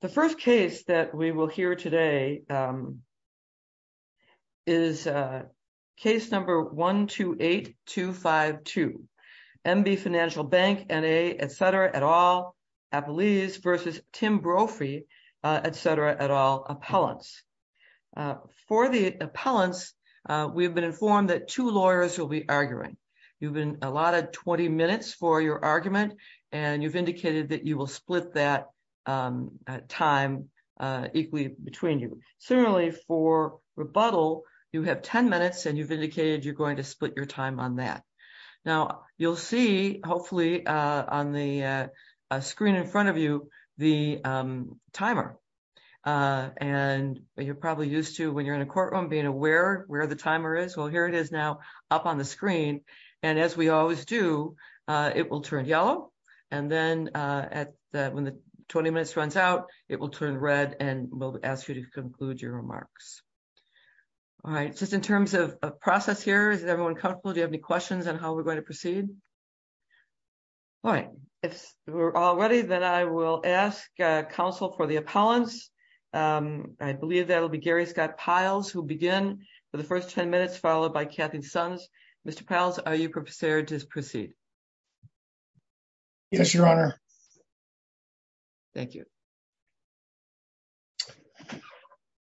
The first case that we will hear today is case number 128252. N.B. Financial Bank, N.A. etc. et al. Appellees v. Tim Brophy etc. et al. Appellants. For the appellants, we have been informed that two lawyers will be arguing. You've been allotted 20 minutes for your argument and you've indicated that you will split that time equally between you. Similarly for rebuttal, you have 10 minutes and you've indicated you're going to split your time on that. Now you'll see hopefully on the screen in front of you the timer and you're probably used to when you're in a courtroom being aware where the timer is. Well here it is now up on the screen and as we always do it will turn yellow and then when the 20 minutes runs out it will turn red and we'll ask you to conclude your remarks. All right, just in terms of process here, is everyone comfortable? Do you have any questions on how we're going to proceed? All right, if we're all ready then I will ask counsel for the appellants. I believe that'll be Gary Scott Piles who'll begin for the first 10 minutes followed by Kathy Sons. Mr. Piles, are you prepared to proceed? Yes, your honor. Thank you.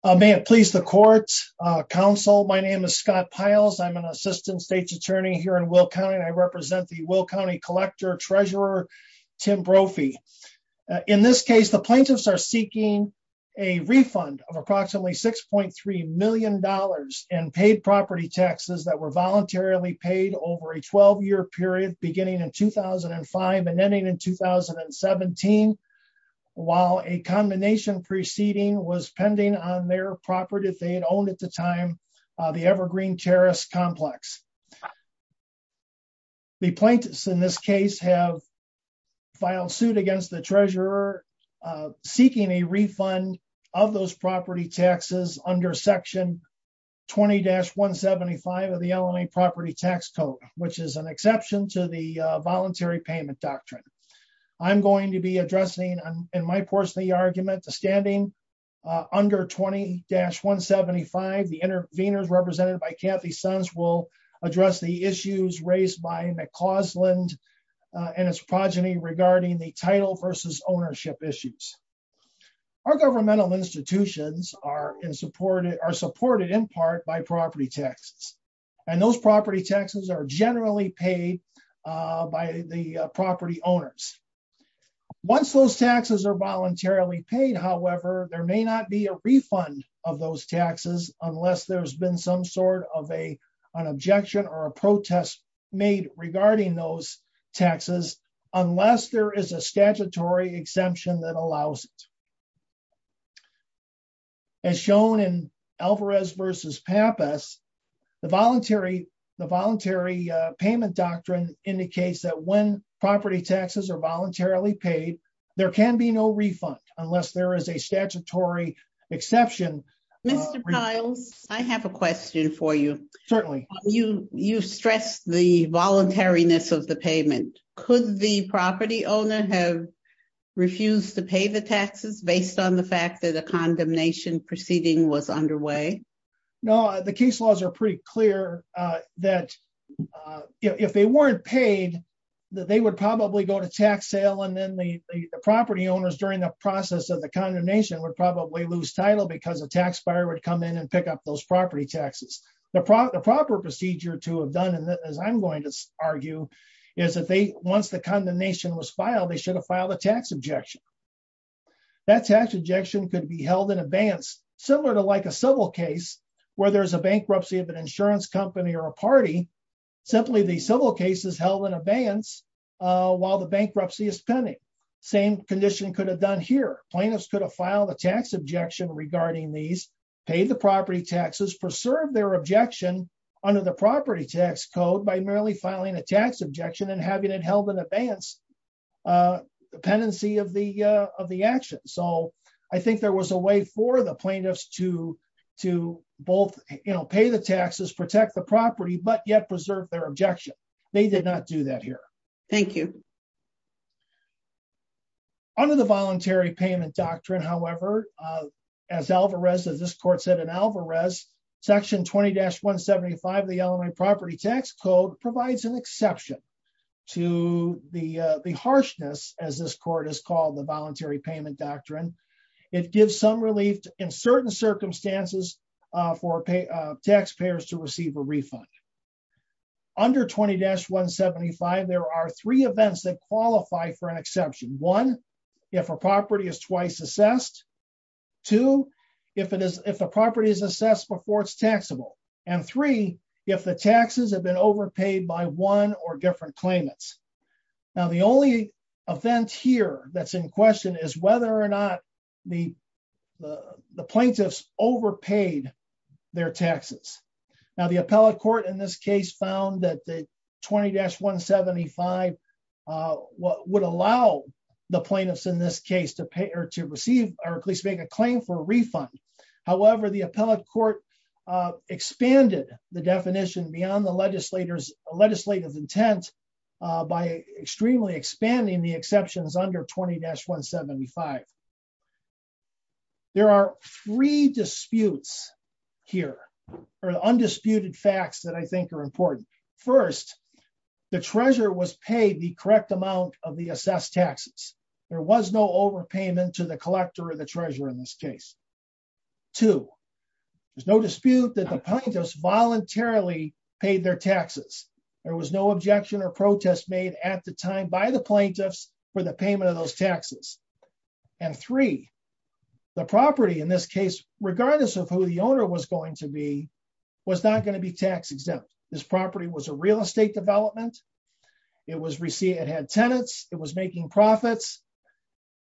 May it please the court's counsel, my name is Scott Piles. I'm an assistant state's attorney here in Will County. I represent the Will County collector treasurer, Tim Brophy. In this case, the plaintiffs are seeking a refund of approximately 6.3 million dollars in paid property taxes that were voluntarily paid over a 12-year period beginning in 2005 and ending in 2017 while a combination preceding was pending on their property they had owned at the time, the Evergreen Terrace complex. The plaintiffs in this case have filed suit against the treasurer seeking a refund of those property taxes under section 20-175 of the LNA property tax code, which is an exception to the voluntary payment doctrine. I'm going to be addressing in my portion of the argument the standing under 20-175. The interveners represented by Kathy Sons will address the issues raised by McCausland and its progeny regarding the title versus ownership issues. Our governmental institutions are supported in part by property taxes, and those property taxes are generally paid by the property owners. Once those taxes are voluntarily paid, however, there may not be a refund of those taxes unless there's been some of a an objection or a protest made regarding those taxes unless there is a statutory exemption that allows it. As shown in Alvarez versus Pappas, the voluntary payment doctrine indicates that when property taxes are voluntarily paid, there can be no refund unless there is a statutory exemption. You stressed the voluntariness of the payment. Could the property owner have refused to pay the taxes based on the fact that a condemnation proceeding was underway? No, the case laws are pretty clear that if they weren't paid, they would probably go to tax sale and then the property owners during the process of the condemnation would lose title because a taxpayer would come in and pick up those property taxes. The proper procedure to have done, and as I'm going to argue, is that once the condemnation was filed, they should have filed a tax objection. That tax objection could be held in advance, similar to like a civil case where there's a bankruptcy of an insurance company or a party, simply the civil case is held in advance while the bankruptcy is pending. Same condition could have done here. Plaintiffs could file the tax objection regarding these, pay the property taxes, preserve their objection under the property tax code by merely filing a tax objection and having it held in advance dependency of the action. I think there was a way for the plaintiffs to both pay the taxes, protect the property, but yet preserve their objection. They did not do that here. Thank you. Under the voluntary payment doctrine, however, as Alvarez, as this court said in Alvarez, section 20-175 of the Illinois property tax code provides an exception to the harshness, as this court has called the voluntary payment doctrine. It gives some relief in certain circumstances for taxpayers to receive a refund. Under 20-175, there are three events that qualify for an exception. One, if a property is twice assessed. Two, if the property is assessed before it's taxable. And three, if the taxes have been overpaid by one or different claimants. Now, the only event here that's in question is whether or not the plaintiffs overpaid their taxes. Now, the appellate court in this case found that the 20-175 would allow the plaintiffs in this case to pay or to receive, or at least make a claim for a refund. However, the appellate court expanded the definition beyond the legislative intent by extremely expanding the exceptions under 20-175. There are three disputes here, or undisputed facts that I think are important. First, the treasurer was paid the correct amount of the assessed taxes. There was no overpayment to the collector or the treasurer in this case. Two, there's no dispute that the plaintiffs voluntarily paid their taxes. There was no objection or protest made at the time by the plaintiffs for the payment of those taxes. And three, the property in this case, regardless of who the owner was going to be, was not going to be tax exempt. This property was a real estate development. It had tenants. It was making profits.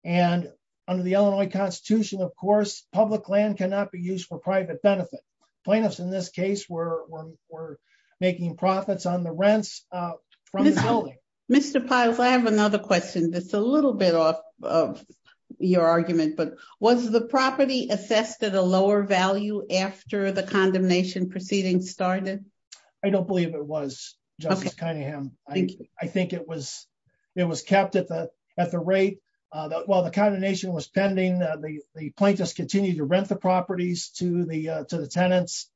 And under the Illinois Constitution, of course, public land cannot be used for private benefit. Plaintiffs in this case were making profits on the rents from the building. Mr. Pyles, I have another question that's a little bit off of your argument, but was the property assessed at a lower value after the condemnation started? I don't believe it was, Justice Cunningham. I think it was kept at the rate. While the condemnation was pending, the plaintiffs continued to rent the properties to the tenants.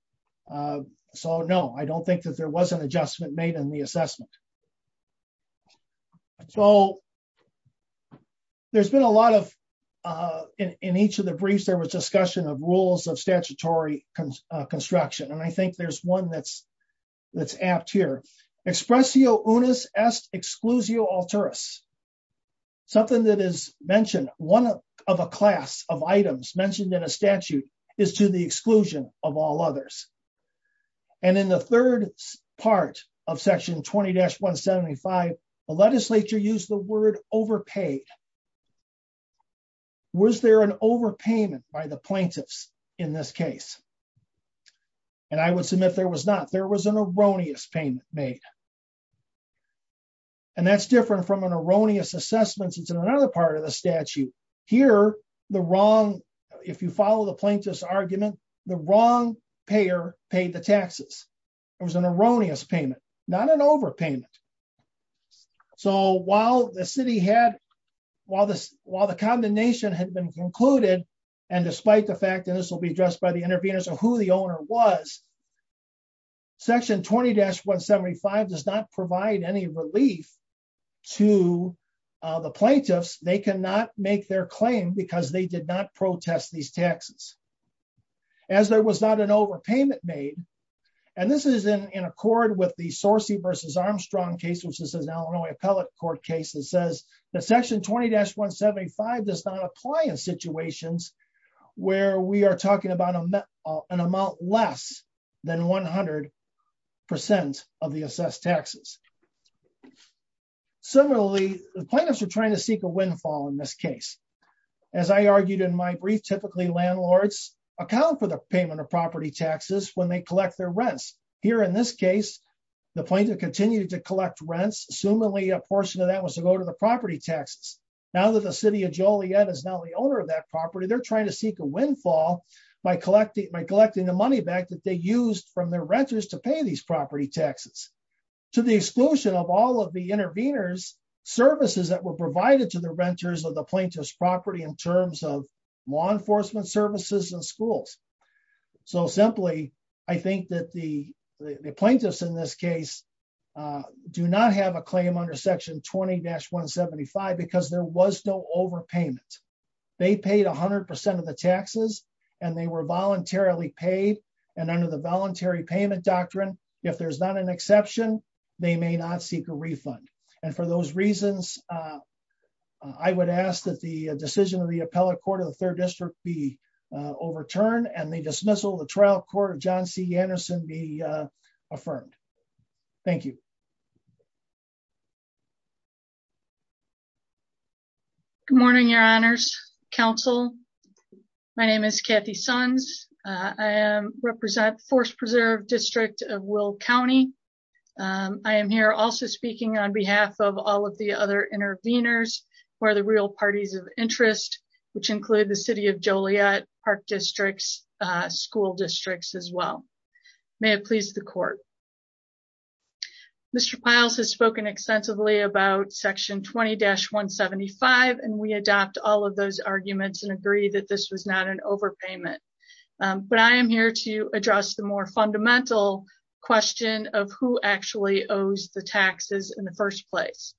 So no, I don't think that there was an adjustment made in the assessment. So there's been a lot of, in each of the briefs, there was discussion of rules of statutory construction. And I think there's one that's apt here. Expressio unis est exclusio alteris. Something that is mentioned, one of a class of items mentioned in a statute is to the exclusion of all others. And in the third part of section 20-175, the legislature used the word overpaid. Was there an overpayment by the plaintiffs in this case? And I would submit there was not, there was an erroneous payment made. And that's different from an erroneous assessment. Since in another part of the statute here, the wrong, if you follow the plaintiff's argument, the wrong payer paid the taxes. It was an erroneous payment, not an overpayment. So while the city had, while this, while the condemnation had been concluded, and despite the fact that this will be addressed by the intervenors or who the owner was, section 20-175 does not provide any relief to the plaintiffs. They cannot make their claim because they did not protest these taxes. As there was not an overpayment made. And this is in accord with the Sorcey versus Armstrong case, which this is an Illinois appellate court case that says that section 20-175 does not apply in situations where we are talking about an amount less than 100% of the assessed taxes. Similarly, the plaintiffs are trying to seek a windfall in this case. As I argued in my brief, typically landlords account for the payment of property taxes when they collect their rents. Here in this case, the plaintiff continued to collect rents. Assumably a portion of that was to go to the property taxes. Now that the city of Joliet is now the owner of that property, they're trying to seek a windfall by collecting the money back that they used from their renters to pay these property taxes to the exclusion of all of the intervenors services that were provided to the renters of the plaintiff's property in terms of law enforcement services and schools. So simply, I think that the plaintiffs in this case do not have a claim under section 20-175 because there was no overpayment. They paid 100% of the taxes and they were voluntarily paid. And under the voluntary payment doctrine, if there's not an exception, they may not seek a refund. And for those reasons, I would ask that the decision of the appellate court of the third district be overturned and the dismissal of the trial court of John C. Anderson be affirmed. Thank you. Good morning, your honors, counsel. My name is Kathy Sons. I represent the Forest Preserve District of Will County. I am here also speaking on behalf of all of the other intervenors who are the real parties of interest, which include the city of Joliet, park districts, school districts as well. May it please the court. Mr. Piles has spoken extensively about section 20-175 and we adopt all of those arguments and agree that this was not an overpayment. But I am here to address the more fundamental question of who actually owes the taxes in the first place.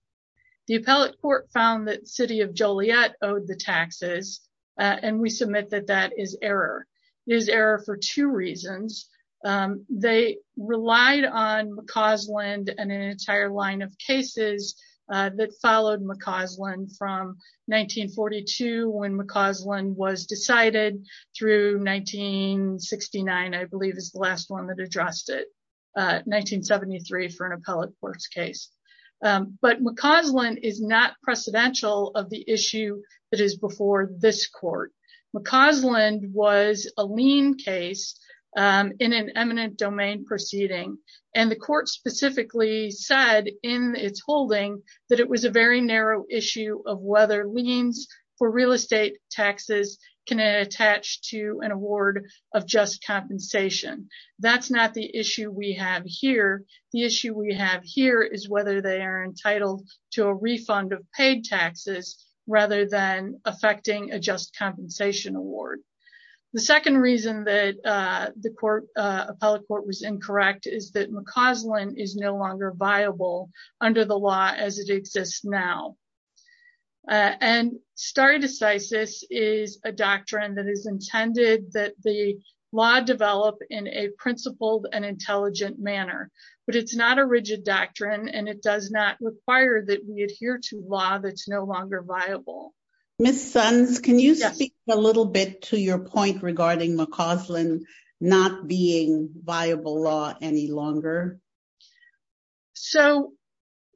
The appellate court found that the city of Joliet owed the taxes and we submit that that is error. It is error for two reasons. They relied on McCausland and an entire line of cases that followed McCausland from 1942 when 1969 I believe is the last one that addressed it, 1973 for an appellate court's case. But McCausland is not precedential of the issue that is before this court. McCausland was a lien case in an eminent domain proceeding and the court specifically said in its holding that it was a narrow issue of whether liens for real estate taxes can attach to an award of just compensation. That is not the issue we have here. The issue we have here is whether they are entitled to a refund of paid taxes rather than affecting a just compensation award. The second reason that the appellate court was incorrect is that McCausland is no longer viable under the law as it exists now. And stare decisis is a doctrine that is intended that the law develop in a principled and intelligent manner. But it's not a rigid doctrine and it does not require that we adhere to law that's no longer viable. Miss Sons, can you speak a little bit to your point regarding McCausland not being viable law any longer? So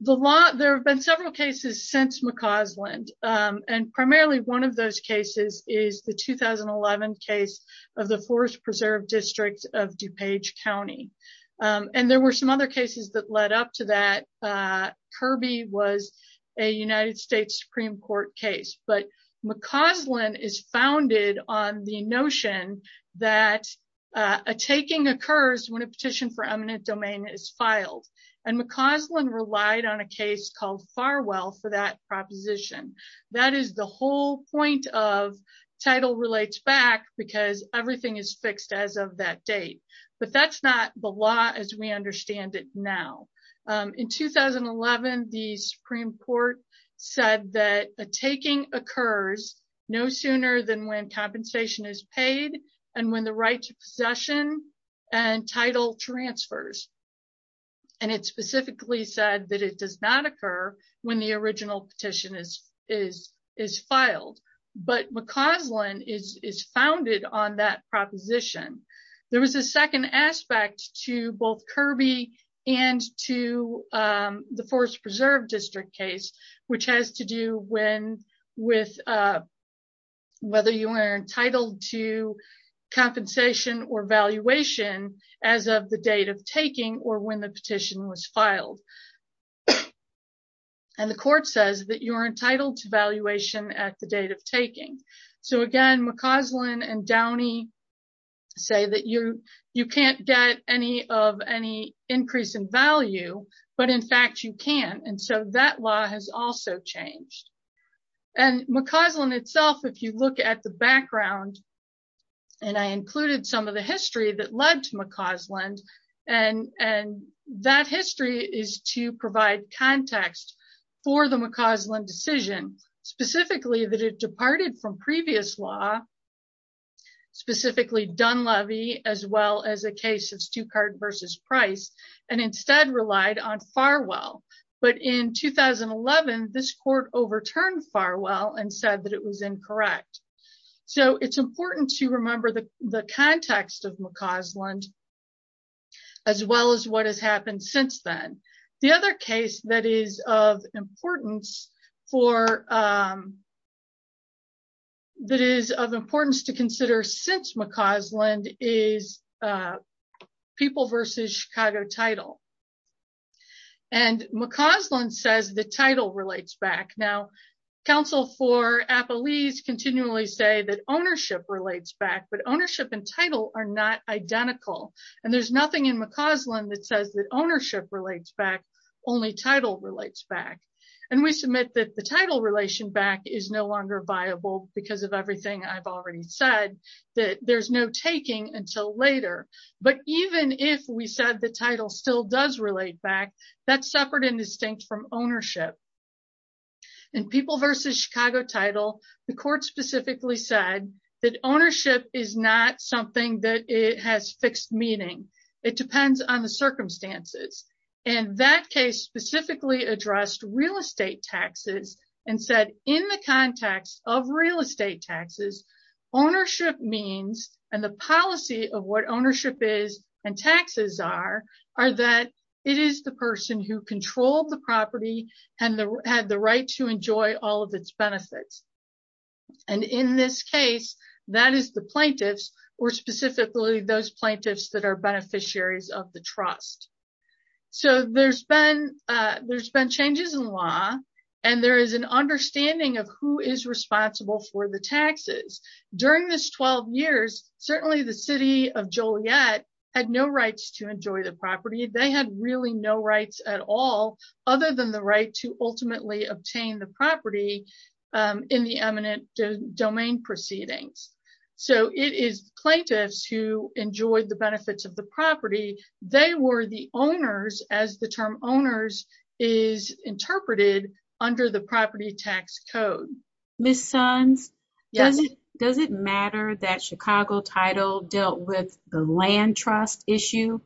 there have been several cases since McCausland and primarily one of those cases is the 2011 case of the Forest Preserve District of DuPage County. And there were some other cases that led up to that. Kirby was a United States Supreme Court case. But McCausland is founded on the notion that a taking occurs when a petition for eminent domain is filed. And McCausland relied on a case called Farwell for that proposition. That is the whole point of title relates back because everything is fixed as of that date. But that's not the law as we understand it now. In 2011, the Supreme Court said that a taking occurs no sooner than when compensation is paid and when the right to possession and title transfers. And it specifically said that it does not occur when the original petition is filed. But McCausland is founded on that proposition. There was a second aspect to both Kirby and to the Forest Preserve District case, which has to do with whether you are entitled to compensation or valuation as of the date of taking or when the petition was filed. And the court says that you're entitled to valuation at the date of taking. So again, McCausland and Downey say that you can't get any of any increase in value, but in fact, you can. And so that law has also changed. And McCausland itself, if you look at the background, and I included some of the history that led to McCausland, and that history is to provide context for the McCausland decision, specifically that it departed from previous law, specifically Dunleavy, as well as a case of Stuttgart versus Price, and instead relied on 2011, this court overturned Farwell and said that it was incorrect. So it's important to remember the context of McCausland, as well as what has happened since then. The other case that is of importance to consider since McCausland is People versus Chicago Title. And McCausland says the title relates back. Now, counsel for Appalese continually say that ownership relates back, but ownership and title are not identical. And there's nothing in McCausland that says that ownership relates back, only title relates back. And we submit that the title relation back is no longer viable because of everything I've already said, that there's no taking until later. But even if we said the title still does relate back, that's separate and distinct from ownership. And People versus Chicago Title, the court specifically said that ownership is not something that it has fixed meaning. It depends on the circumstances. And that case specifically addressed real estate taxes and said in the context of real estate taxes, ownership means, and the policy of what ownership is and taxes are, are that it is the person who controlled the property and had the right to enjoy all of its benefits. And in this case, that is the plaintiffs, or specifically those plaintiffs that are beneficiaries of the trust. So there's been, there's been changes in law, and there is an understanding of who is responsible for the taxes. During this 12 years, certainly the city of Joliet had no rights to enjoy the property. They had really no rights at all, other than the right to ultimately obtain the property in the eminent domain proceedings. So it is plaintiffs who enjoyed the benefits of the owners as the term owners is interpreted under the property tax code. Ms. Sons, does it matter that Chicago Title dealt with the land trust issue?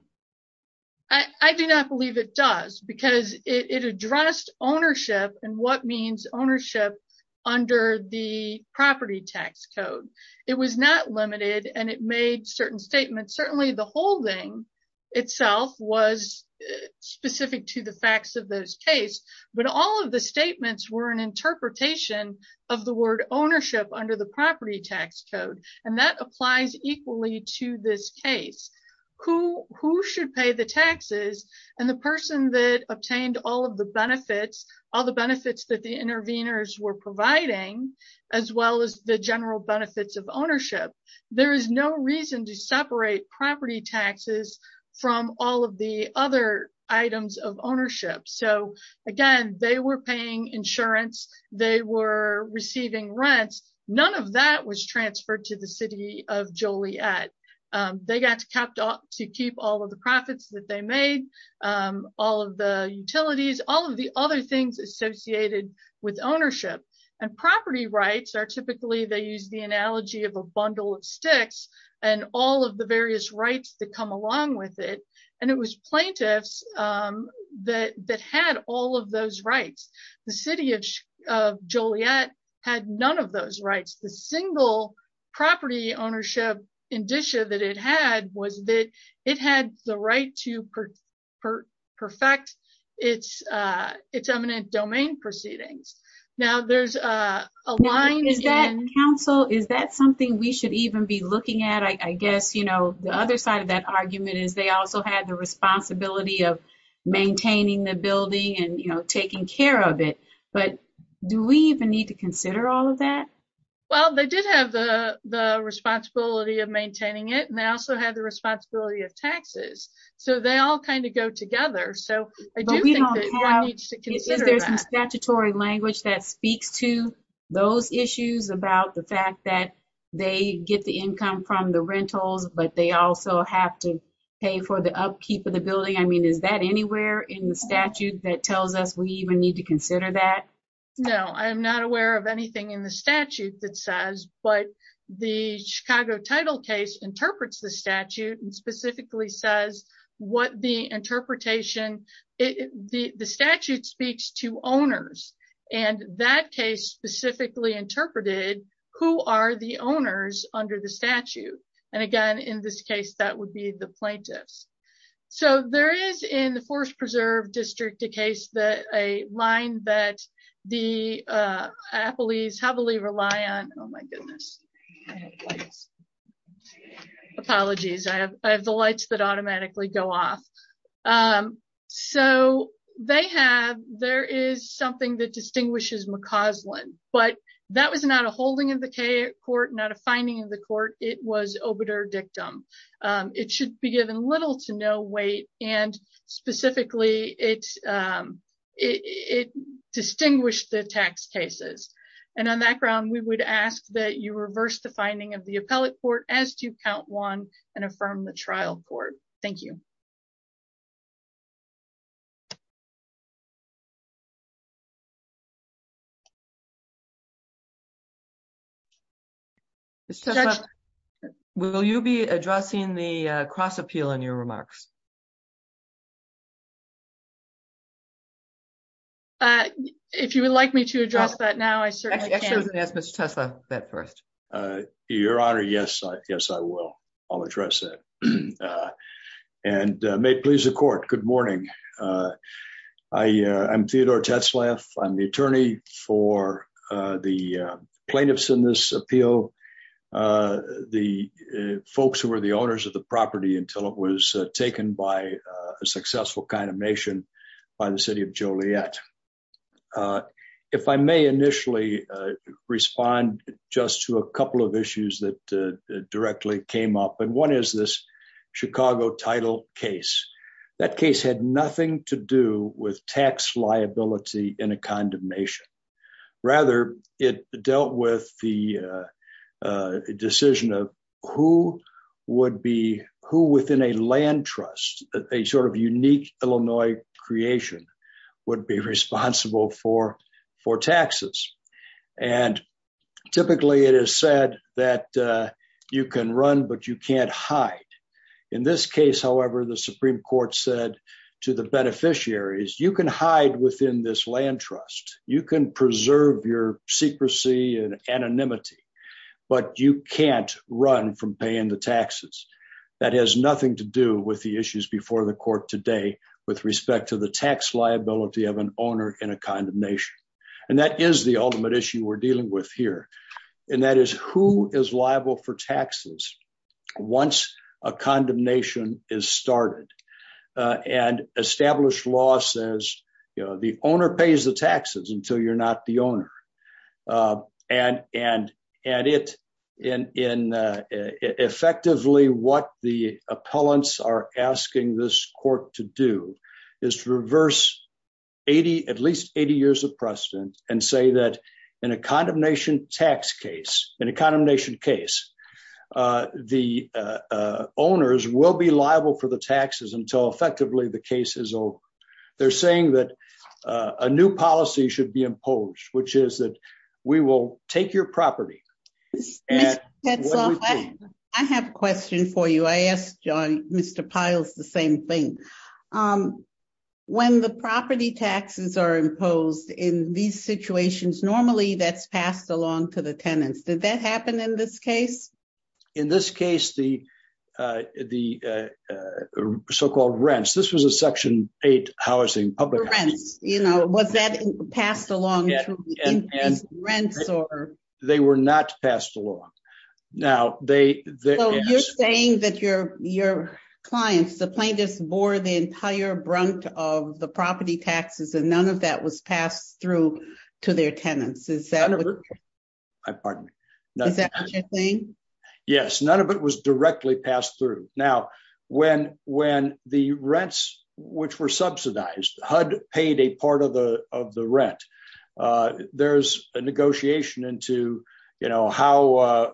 I do not believe it does because it addressed ownership and what means ownership under the property tax code. It was not limited and it made certain statements. Certainly the holding itself was specific to the facts of those case, but all of the statements were an interpretation of the word ownership under the property tax code. And that applies equally to this case. Who should pay the taxes and the person that obtained all of the benefits, all the benefits that the interveners were providing, as well as the general benefits of ownership. There is no reason to separate property taxes from all of the other items of ownership. So again, they were paying insurance, they were receiving rents, none of that was transferred to the city of Joliet. They got to keep all of the profits that they made, all of the utilities, all of the other things associated with ownership. And property rights are typically, they use the all of the various rights that come along with it. And it was plaintiffs that had all of those rights. The city of Joliet had none of those rights. The single property ownership indicia that it had was that it had the right to perfect its eminent domain proceedings. Now there's a line council, is that something we should even be looking at? I guess, the other side of that argument is they also had the responsibility of maintaining the building and taking care of it. But do we even need to consider all of that? Well, they did have the responsibility of maintaining it and they also had the responsibility of taxes. So they all kind of go together. So I do think that one needs to consider that. Is there some statutory language that speaks to those issues about the fact that they get the income from the rentals, but they also have to pay for the upkeep of the building? I mean, is that anywhere in the statute that tells us we even need to consider that? No, I'm not aware of anything in the statute that says, but the statute speaks to owners. And that case specifically interpreted who are the owners under the statute. And again, in this case, that would be the plaintiffs. So there is in the Forest Preserve District, a case that a line that the Appleys heavily rely on. Oh my goodness. Apologies. I have the lights that automatically go off. So they have, there is something that distinguishes McCausland, but that was not a holding of the court, not a finding of the court. It was obiter dictum. It should be given little to no weight. And specifically it distinguished the tax cases. And on that ground, we would ask that you reverse the finding of the appellate court as to count one and affirm the trial court. Thank you. Will you be addressing the cross appeal in your remarks? Uh, if you would like me to address that now, I certainly ask Mr. Tesla that first, uh, your honor. Yes, I, yes, I will. I'll address it. Uh, and, uh, may it please the court. Good morning. Uh, I, uh, I'm Theodore Tesla. I'm the attorney for, uh, the, uh, plaintiffs in this appeal. Uh, the, uh, folks who were the owners of the property until it was taken by a successful kind of nation by the city of Joliet. Uh, if I may initially, uh, respond just to a couple of issues that, uh, directly came up and one is this Chicago title case. That case had nothing to do with tax liability in a condemnation. Rather it dealt with the, uh, uh, decision of who would be who within a land trust, a sort of unique Illinois creation would be responsible for, for taxes. And typically it is said that, uh, you can run, but you can't hide in this case. However, the Supreme court said to the beneficiaries, you can hide within this land trust. You can preserve your secrecy and anonymity, but you can't run from paying the that has nothing to do with the issues before the court today with respect to the tax liability of an owner in a kind of nation. And that is the ultimate issue we're dealing with here. And that is who is liable for taxes. Once a condemnation is started, uh, and established law says, you know, the owner pays the taxes until you're not the owner. Uh, and, and, and it, and in, uh, effectively what the appellants are asking this court to do is to reverse 80, at least 80 years of precedent and say that in a condemnation tax case, in a condemnation case, uh, the, uh, uh, owners will be liable for the taxes until effectively the case is old. They're saying that, uh, a new policy should be imposed, which is that we will take your property. And I have a question for you. I asked Mr. Piles, the same thing. Um, when the property taxes are imposed in these situations, normally that's passed along to the tenants. Did that happen in this case? In this case, the, uh, the, uh, uh, so-called rents, this was a section eight housing public you know, was that passed along? They were not passed along. Now they, you're saying that your, your clients, the plaintiffs bore the entire brunt of the property taxes and none of that was passed through to their tenants. Is that what you're saying? Yes. None of it was directly passed through. Now when, when the rents which were subsidized, HUD paid a part of the, of the rent, uh, there's a negotiation into, you know, how, uh,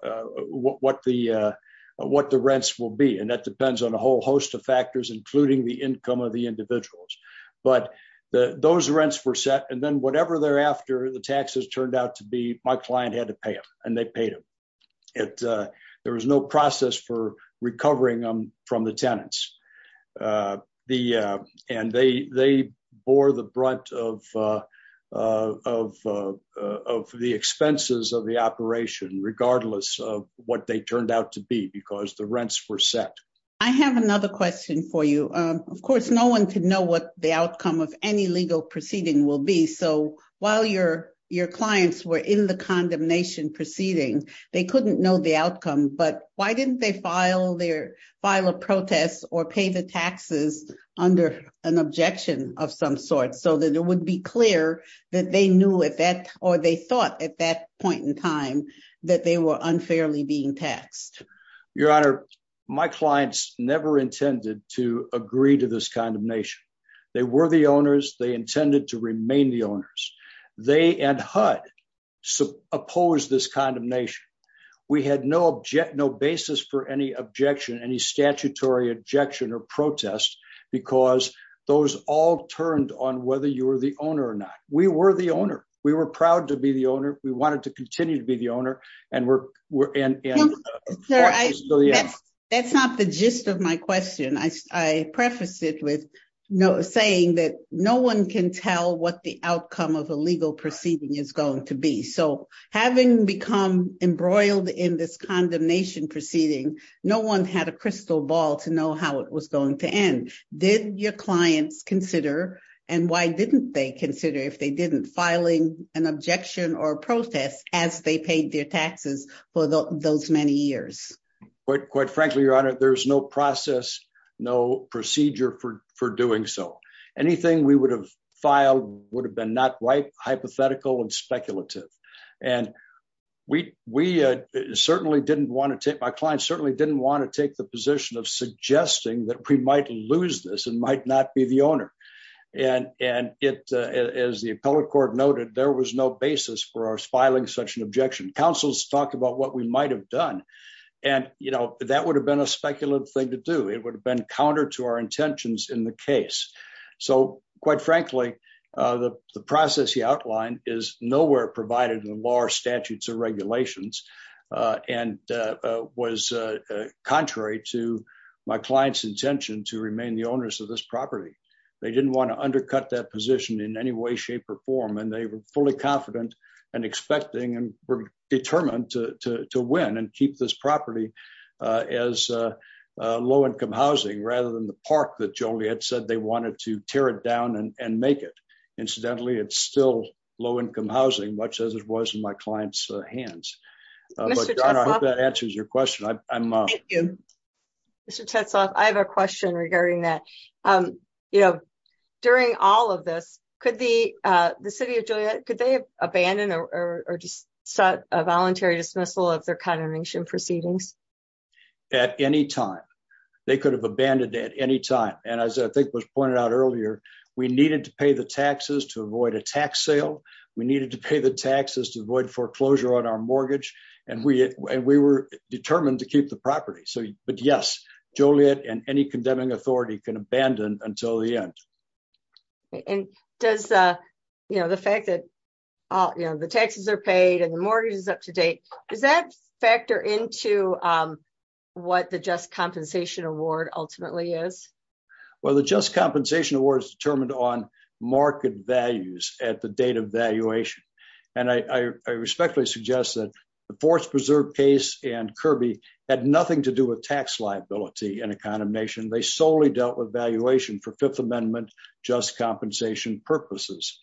what, what the, uh, what the rents will be. And that depends on a whole host of factors, including the income of the individuals, but the, those rents were set. And then whatever thereafter the taxes turned out to be, my client had to pay them and they paid it. Uh, there was no process for recovering them from the tenants, uh, the, uh, and they, they bore the brunt of, uh, uh, of, uh, of the expenses of the operation, regardless of what they turned out to be because the rents were set. I have another question for you. Um, of course, no one can know what the outcome of any legal proceeding will be. So while your, your clients were in the condemnation proceeding, they couldn't know the outcome, but why didn't they file their file of protests or pay the taxes under an objection of some sort? So that it would be clear that they knew if that, or they thought at that point in time that they were unfairly being taxed. Your honor, my clients never intended to agree to this kind of nation. They were the owners. They intended to remain the owners. They and HUD oppose this kind of nation. We had no object, no basis for any objection, any statutory objection or protest because those all turned on whether you were the owner or not. We were the owner. We were proud to be the owner. We wanted to continue to be the owner and we're, we're, and, and that's not the gist of my question. I prefaced it with saying that no one can tell what the outcome of a legal proceeding is going to be. So having become embroiled in this condemnation proceeding, no one had a crystal ball to know how it was going to end. Did your clients consider, and why didn't they consider if they didn't filing an objection or protest as they paid their taxes for those many years? Quite frankly, your honor, there's no process, no procedure for, for doing so. Anything we would have filed would have been not right, hypothetical and speculative. And we, we certainly didn't want to take, my clients certainly didn't want to take the position of suggesting that we might lose this and might not be the owner. And, and it, as the appellate court noted, there was no basis for filing such an objection. Counsel's talked about what we might've done and, you know, that would have been a speculative thing to do. It would have been counter to our intentions in the case. So quite frankly the process you outlined is nowhere provided in the law or statutes or regulations and was contrary to my client's intention to remain the owners of this property. They didn't want to undercut that position in any way, shape, or form. And they were fully confident and expecting and were determined to, to, to win and keep this property as a low-income housing rather than the park that Joliet said they wanted to tear it down and make it. Incidentally, it's still low-income housing, much as it was in my client's hands. But I hope that answers your question. I'm, I'm. Thank you. Mr. Tetzloff, I have a question regarding that. You know, during all of this, could the, the city of Joliet, could they have abandoned or sought a voluntary dismissal of their condemnation proceedings? At any time. They could have abandoned it at any time. And as I think was pointed out earlier, we needed to pay the taxes to avoid a tax sale. We needed to pay the taxes to avoid foreclosure on our mortgage. And we, and we were determined to keep the property. So, but yes, Joliet and any condemning authority can abandon until the end. And does, you know, the fact that, you know, the taxes are paid and the mortgage is up to date, does that factor into what the Just Compensation Award ultimately is? Well, the Just Compensation Award is determined on market values at the date of valuation. And I respectfully suggest that the Forest Preserve case and Kirby had nothing to do with tax liability and a condemnation. They solely dealt with valuation for Fifth Amendment Just Compensation purposes.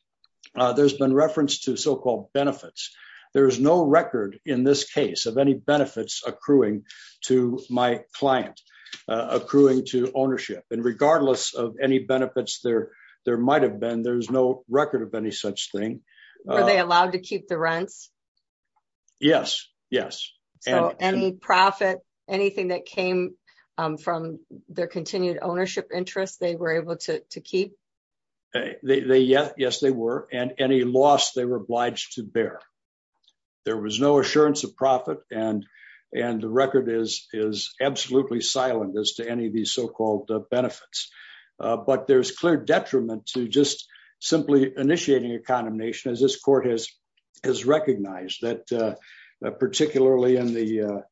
There's been reference to so-called benefits. There is no record in this case of any benefits accruing to my client, accruing to ownership. And regardless of any benefits there, there might've been, there's no record of any such thing. Are they allowed to keep the rents? Yes, yes. So any profit, anything that came from their continued ownership interests, they were able to keep? Yes, they were. And any loss they were obliged to bear. There was no assurance of profit and, and the record is, is absolutely silent as to any of these so-called benefits. But there's clear detriment to just simply initiating a condemnation as this court has, has recognized that particularly in the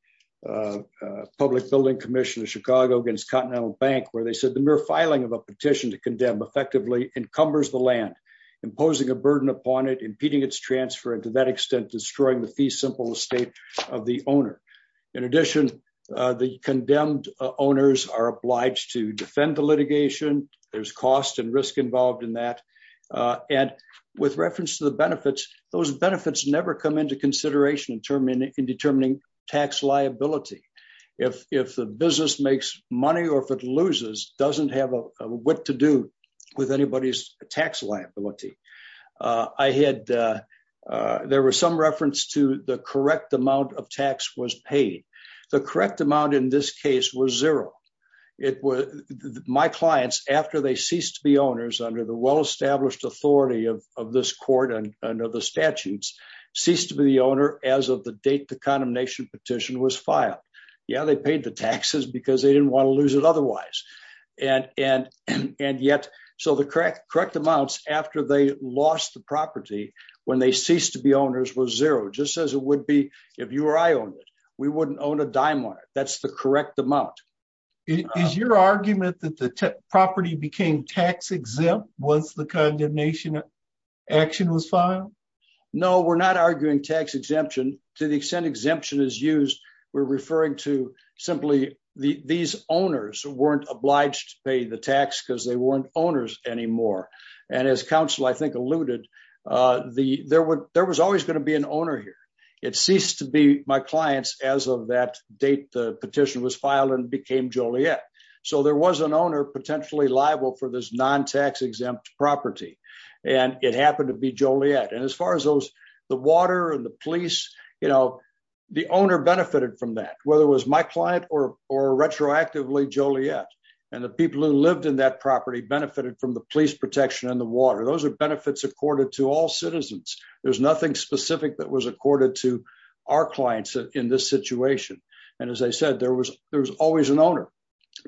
Public Building Commission of Chicago against Continental Bank, where they said the mere filing of a petition to condemn effectively encumbers the land, imposing a burden upon it, impeding its transfer, and to that extent, destroying the fee simple estate of the owner. In addition, the condemned owners are obliged to those benefits never come into consideration in determining tax liability. If the business makes money or if it loses, doesn't have a what to do with anybody's tax liability. I had, there was some reference to the correct amount of tax was paid. The correct amount in this case was zero. It was my clients after they ceased to be owners under the well-established authority of this court and under the statutes ceased to be the owner as of the date the condemnation petition was filed. Yeah, they paid the taxes because they didn't want to lose it otherwise. And, and, and yet, so the correct, correct amounts after they lost the property when they ceased to be owners was zero, just as it would be if you or I owned it, we wouldn't own a dime on it. That's the correct amount. Is your argument that the property became tax exempt once the condemnation action was filed? No, we're not arguing tax exemption to the extent exemption is used. We're referring to simply the, these owners weren't obliged to pay the tax because they weren't owners anymore. And as counsel, I think alluded the, there would, there was always going to be an owner here. It ceased to be my clients as of that date, the petition was filed and became Joliet. So there was an owner potentially liable for this non-tax exempt property. And it happened to be Joliet. And as far as those, the water and the police, you know, the owner benefited from that, whether it was my client or, or retroactively Joliet and the people who lived in that property benefited from the police protection and the water. Those are benefits accorded to all citizens. There's nothing specific that was accorded to our clients in this situation. And as I said, there was, there was always an owner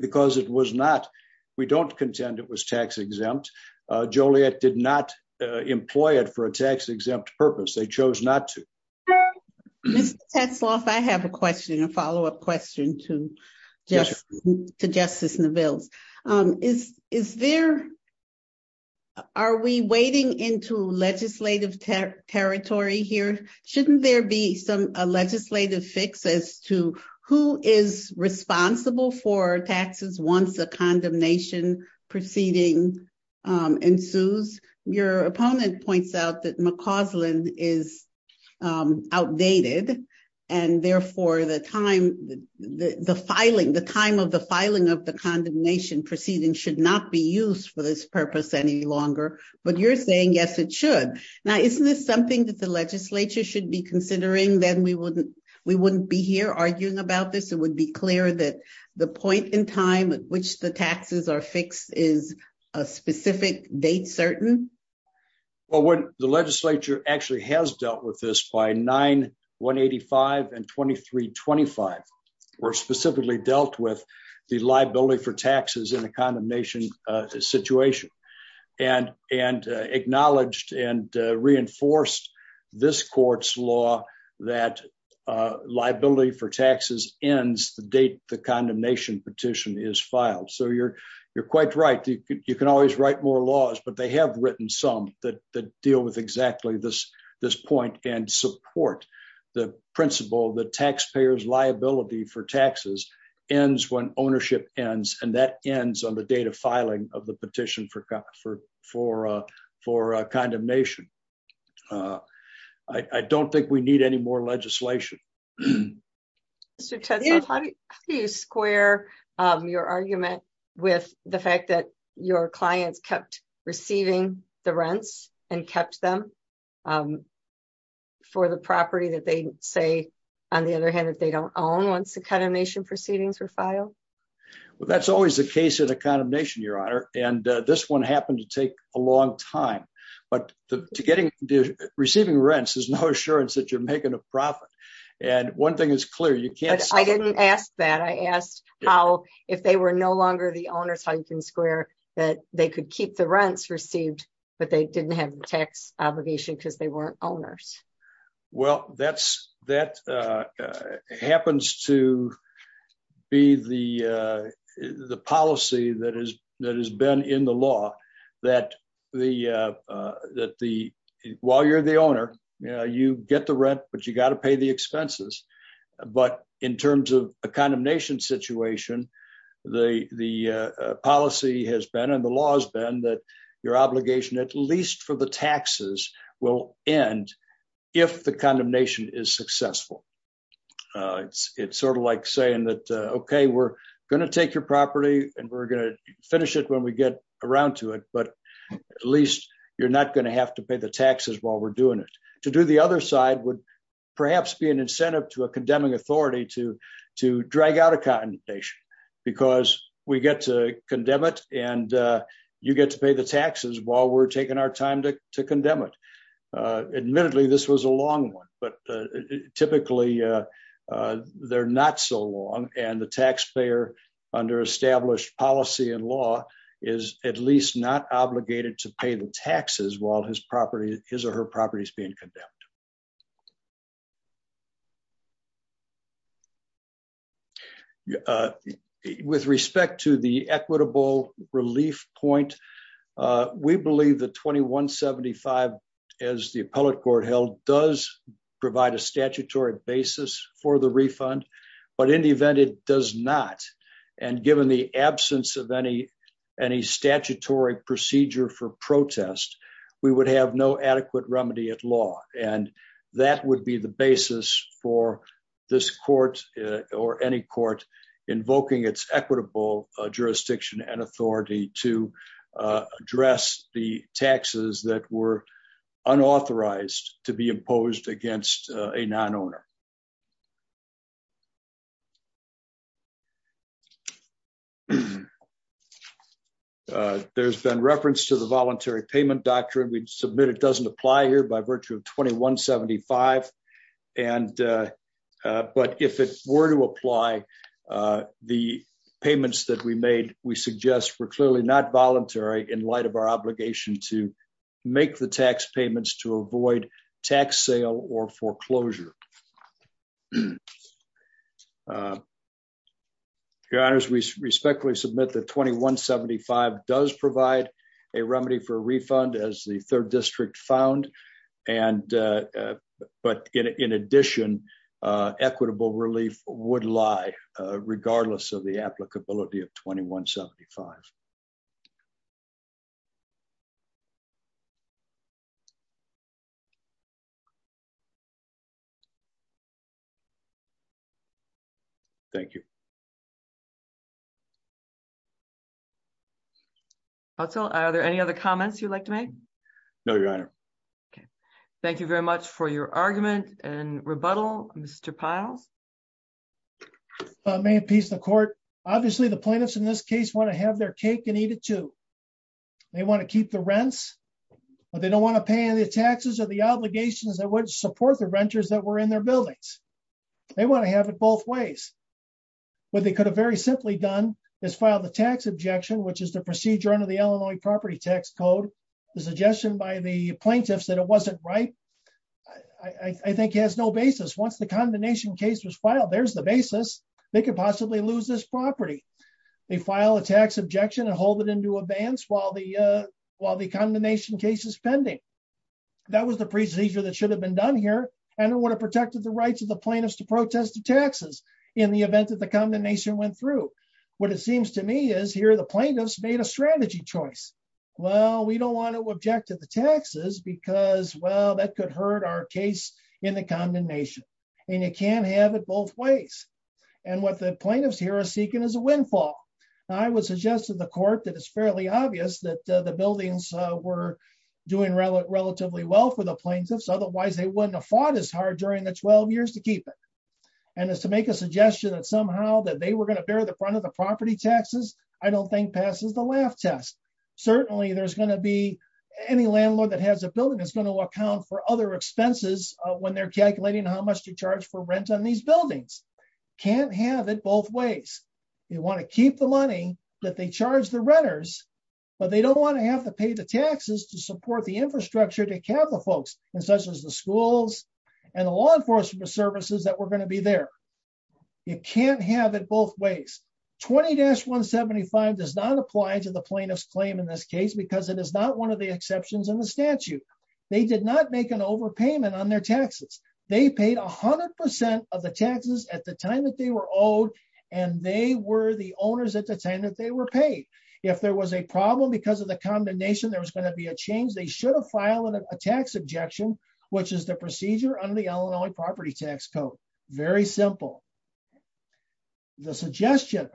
because it was not, we don't contend it was tax exempt. Joliet did not employ it for a tax exempt purpose. They chose not to. Mr. Tetzlaff, I have a question, a follow-up question to Justice Neville. Is, is there, are we wading into legislative territory here? Shouldn't there be some, a legislative fix as to who is responsible for taxes once the condemnation proceeding ensues? Your opponent points out that McCausland is outdated and therefore the time, the filing, the time of the filing of the condemnation proceeding should not be used for this purpose any longer, but you're saying, yes, it should. Now, isn't this something that the legislature should be considering? Then we wouldn't, we wouldn't be here arguing about this. It would be clear that the point in time at which the taxes are fixed is a specific date, certain. Well, when the legislature actually has dealt with this by 9, 185 and 2325, or specifically dealt with the liability for taxes in a condemnation situation and, and acknowledged and reinforced this court's law that liability for taxes ends the date the condemnation petition is filed. So you're, you're quite right. You can always write more laws, but they have written some that, that deal with exactly this, this point and support the principle that taxpayers liability for taxes ends when ownership ends. And that ends on the date of a condemnation. Uh, I don't think we need any more legislation. Mr. Ted, how do you square, um, your argument with the fact that your clients kept receiving the rents and kept them, um, for the property that they say on the other hand, that they don't own once the condemnation proceedings were filed. Well, that's always the case of the condemnation, your honor. And, uh, this one happened to take a long time, but to getting receiving rents, there's no assurance that you're making a profit. And one thing is clear. You can't, I didn't ask that. I asked how, if they were no longer the owners, how you can square that they could keep the rents received, but they didn't have tax obligation because they has been in the law that the, uh, uh, that the, while you're the owner, you know, you get the rent, but you got to pay the expenses. But in terms of a condemnation situation, the, the, uh, policy has been, and the law has been that your obligation, at least for the taxes will end if the condemnation is successful. Uh, it's, it's sort of like saying that, uh, okay, we're going to take your property and we're going to finish it when we get around to it, but at least you're not going to have to pay the taxes while we're doing it to do the other side would perhaps be an incentive to a condemning authority to, to drag out a condemnation because we get to condemn it. And, uh, you get to pay the taxes while we're taking our time to, to condemn it. Uh, admittedly, this was a long one, but, uh, typically, uh, uh, they're not so long and the taxpayer under established policy and law is at least not obligated to pay the taxes while his property his or her property is being condemned. Yeah. Uh, with respect to the equitable relief point, uh, we believe the 2175 as the appellate court held does provide a statutory basis for the refund, but in the event, it does not. And given the absence of any, any statutory procedure for protest, we would have no adequate remedy at law. And that would be the basis for this court or any court invoking its equitable jurisdiction and authority to address the taxes that were unauthorized to be imposed against a non-owner. There's been reference to the voluntary payment doctrine. We'd submit it doesn't apply here by if it were to apply, uh, the payments that we made, we suggest we're clearly not voluntary in light of our obligation to make the tax payments to avoid tax sale or foreclosure. Your honors, we respectfully submit the 2175 does provide a remedy for a refund as the third condition, uh, equitable relief would lie, uh, regardless of the applicability of 2175. Thank you. Also, are there any other comments you'd like to make? No, your honor. Okay. Thank you very much for your argument and rebuttal. Mr. Piles. I may appease the court. Obviously the plaintiffs in this case want to have their cake and eat it too. They want to keep the rents, but they don't want to pay any taxes or the obligations that would support the renters that were in their buildings. They want to have it both ways. What they could have very simply done is file the tax objection, which is the procedure under Illinois property tax code, the suggestion by the plaintiffs that it wasn't right. I think he has no basis. Once the condemnation case was filed, there's the basis. They could possibly lose this property. They file a tax objection and hold it into advance while the, while the condemnation case is pending. That was the procedure that should have been done here. I don't want to protect the rights of the plaintiffs to protest the taxes in the event that the condemnation went through. What it seems to me is here, the plaintiffs made a strategy choice. Well, we don't want to object to the taxes because well, that could hurt our case in the condemnation and you can't have it both ways. And what the plaintiffs here are seeking is a windfall. I would suggest to the court that it's fairly obvious that the buildings were doing relatively well for the plaintiffs. Otherwise they wouldn't have fought as hard during the 12 years to keep it. And as to make a suggestion that somehow that they were going to bear the front of the property taxes, I don't think passes the laugh test. Certainly there's going to be any landlord that has a building that's going to account for other expenses when they're calculating how much to charge for rent on these buildings. Can't have it both ways. You want to keep the money that they charge the renters, but they don't want to have to pay the enforcement services that were going to be there. You can't have it both ways. 20-175 does not apply to the plaintiff's claim in this case because it is not one of the exceptions in the statute. They did not make an overpayment on their taxes. They paid 100% of the taxes at the time that they were owed and they were the owners at the time that they were paid. If there was a problem because of the condemnation, there was going to be a change. They should have filed a tax objection, which is the procedure under the Illinois Property Tax Code. Very simple. The suggestion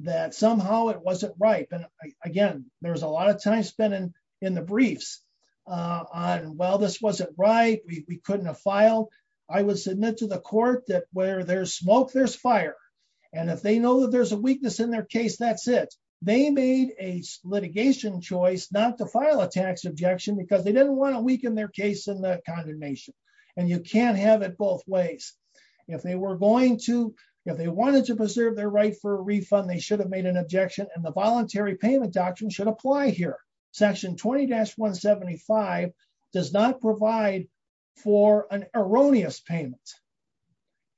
that somehow it wasn't ripe, and again, there's a lot of time spent in the briefs on, well, this wasn't right. We couldn't have filed. I would submit to the court that where there's smoke, there's fire. If they know that there's a weakness in their case, that's it. They made a litigation choice not to file a tax objection because they didn't want to weaken their case in the condemnation. You can't have it both ways. If they wanted to preserve their right for a refund, they should have made an objection and the voluntary payment doctrine should apply here. Section 20-175 does not provide for an erroneous payment.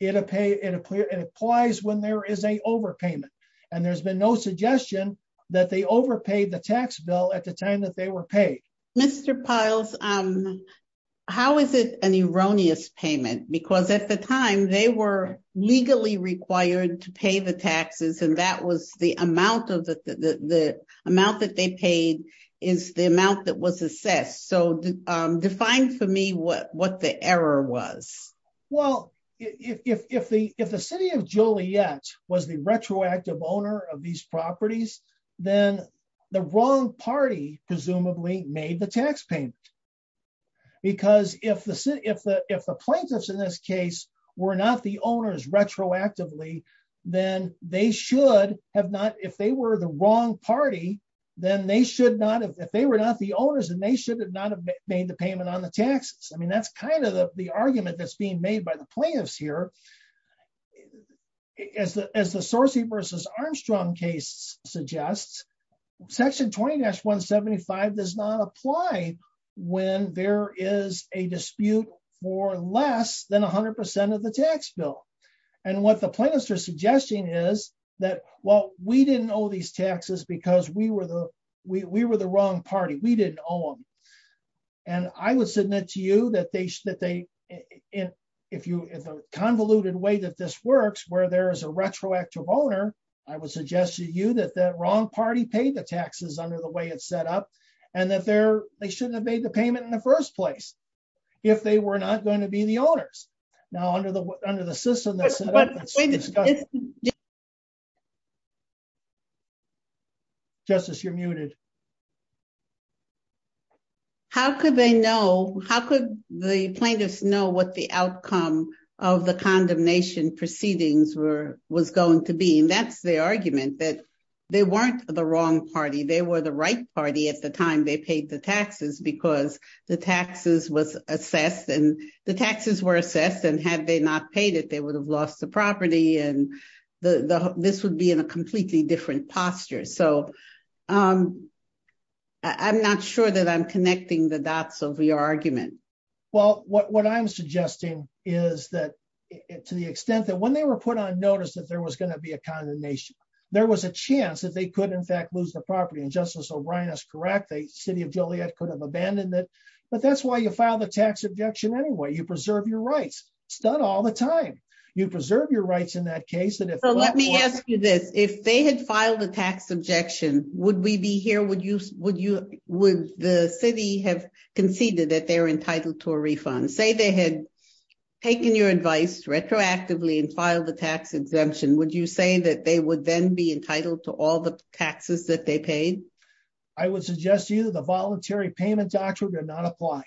It applies when there is an overpayment and there's been no suggestion that they overpaid the tax bill at the time that they were paid. Mr. Piles, how is it an erroneous payment? Because at the time, they were legally required to pay the taxes and that was the amount that they paid is the amount that was assessed. So define for me what the error was. Well, if the city of Juliette was the retroactive owner of these properties, then the wrong party presumably made the tax payment. Because if the plaintiffs in this case were not the owners retroactively, then they should have not, if they were the wrong party, made the payment on the taxes. I mean, that's kind of the argument that's being made by the plaintiffs here. As the Sorcey versus Armstrong case suggests, Section 20-175 does not apply when there is a dispute for less than 100% of the tax bill. And what the plaintiffs are suggesting is that, well, we didn't owe these taxes because we were the wrong party. We didn't owe them. And I would submit to you that they, in a convoluted way that this works, where there is a retroactive owner, I would suggest to you that the wrong party paid the taxes under the way it's set up and that they shouldn't have made the payment in the first place if they were not going to be the owners. Now, under the system that's set up, it's a discussion. Justice, you're muted. How could they know, how could the plaintiffs know what the outcome of the condemnation proceedings were, was going to be? And that's the argument that they weren't the wrong party. They were the right party at the time they paid the taxes because the taxes was assessed and the this would be in a completely different posture. So I'm not sure that I'm connecting the dots of your argument. Well, what I'm suggesting is that to the extent that when they were put on notice that there was going to be a condemnation, there was a chance that they could in fact lose the property. And Justice O'Brien is correct. The city of Joliet could have abandoned it. But that's why you file the tax objection anyway. You preserve your rights. It's done all the time. You preserve your rights in that case. Let me ask you this. If they had filed a tax objection, would we be here? Would you, would you, would the city have conceded that they're entitled to a refund? Say they had taken your advice retroactively and filed a tax exemption. Would you say that they would then be entitled to all the taxes that they paid? I would suggest to you that the voluntary payment doctrine did not apply,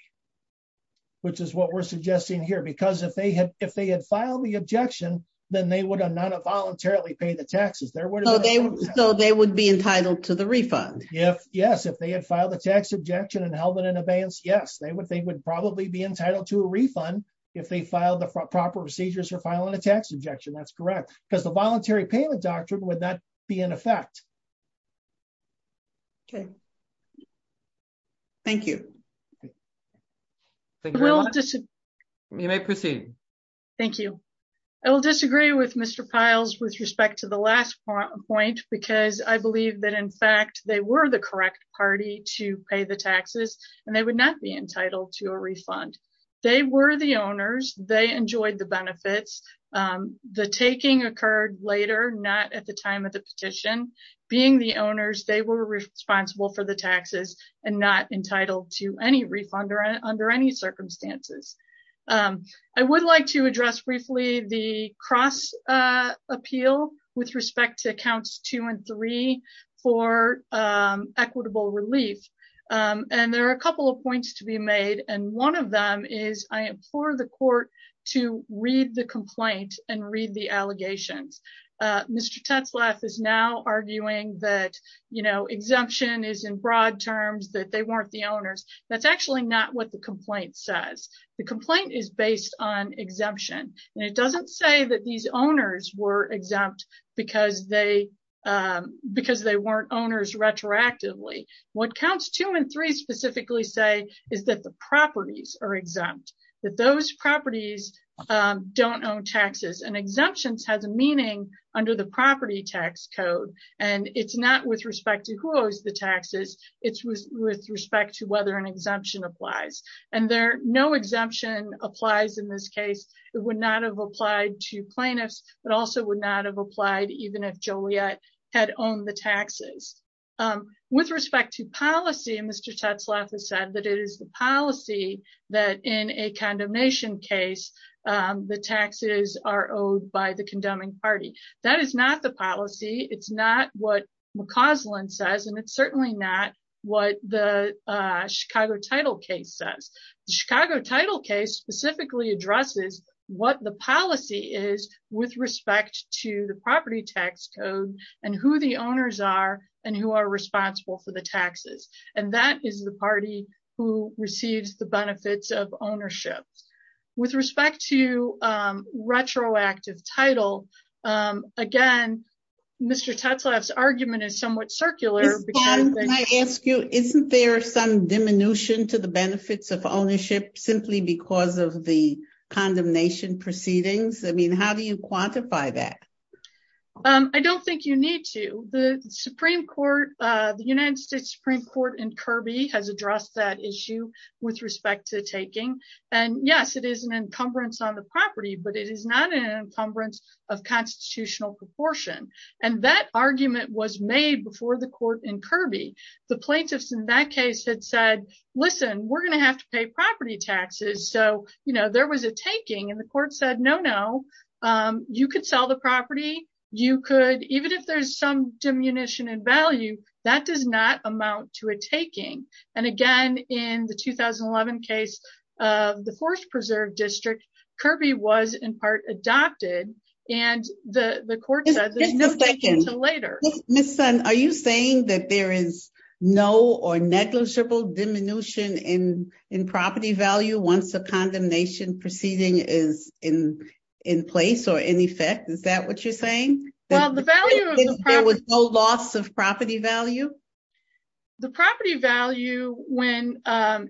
which is what we're suggesting here. Because if they had, if they had filed the objection, then they would not have voluntarily paid the taxes. So they would be entitled to the refund? Yes. If they had filed a tax objection and held it in abeyance, yes. They would, they would probably be entitled to a refund if they filed the proper procedures for filing a tax objection. That's correct. Because the voluntary payment doctrine would not be in effect. Okay. Thank you. You may proceed. Thank you. I will disagree with Mr. Piles with respect to the last point because I believe that in fact they were the correct party to pay the taxes and they would not be entitled to a refund. They were the owners. They enjoyed the benefits. The taking occurred later, not at the time of the petition. Being the owners, they were responsible for the taxes and not entitled to any refund or under any circumstances. I would like to address briefly the cross appeal with respect to accounts two and three for equitable relief. And there are a couple of points to be made. And one of them is I implore the court to read the complaint and read the allegations. Mr. Tetzlaff is now arguing that, you know, exemption is in broad terms that they weren't the owners. That's actually not what the complaint says. The complaint is based on exemption and it doesn't say that these owners were exempt because they weren't owners retroactively. What counts two and three specifically say is that the properties are exempt, that those properties don't own taxes and exemptions has a meaning under the property tax code. And it's not with respect to who owes the taxes, it's with respect to whether an exemption applies. And no exemption applies in this case. It would not have applied to plaintiffs but also would not have applied even if Joliet had owned the taxes. With respect to policy, Mr. Tetzlaff has said that it is the policy that in a condemnation case the taxes are owed by the condemning party. That is not the policy. It's not what McCausland says and it's certainly not what the Chicago title case says. The Chicago title case specifically addresses what the policy is with respect to the property tax code and who the owners are and who are responsible for the taxes. And that is the party who receives the benefits of ownership. With respect to retroactive title, again, Mr. Tetzlaff's argument is somewhat circular. Can I ask you, isn't there some diminution to the benefits of ownership simply because of the condemnation proceedings? I mean, has addressed that issue with respect to taking. And yes, it is an encumbrance on the property, but it is not an encumbrance of constitutional proportion. And that argument was made before the court in Kirby. The plaintiffs in that case had said, listen, we're going to have to pay property taxes. So, you know, there was a taking and the court said, no, no, you could sell the And again, in the 2011 case of the Forest Preserve District, Kirby was in part adopted and the court said there's no taking until later. Ms. Senn, are you saying that there is no or negligible diminution in property value once the condemnation proceeding is in place or in effect? Is that what you're saying? Well, the value of the property. There was no loss of property value? The property value when,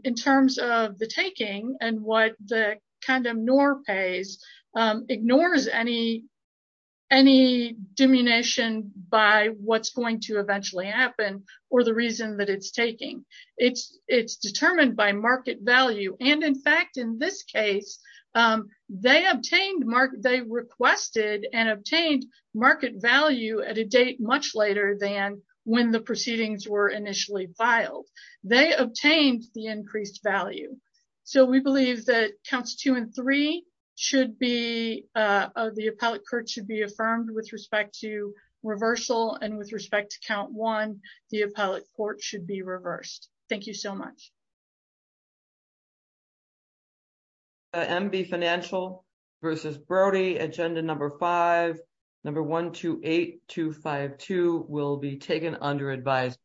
in terms of the taking and what the condemn nor pays ignores any diminution by what's going to eventually happen or the reason that it's taking. It's determined by market value. And in fact, in this case, they obtained, they requested and obtained market value at a date much later than when the proceedings were initially filed. They obtained the increased value. So we believe that counts two and three should be, the appellate court should be affirmed with respect to reversal and with respect to count one, the appellate court should be reversed. Thank you so much. MB Financial versus Brody, agenda number five, number 128252 will be taken under advised.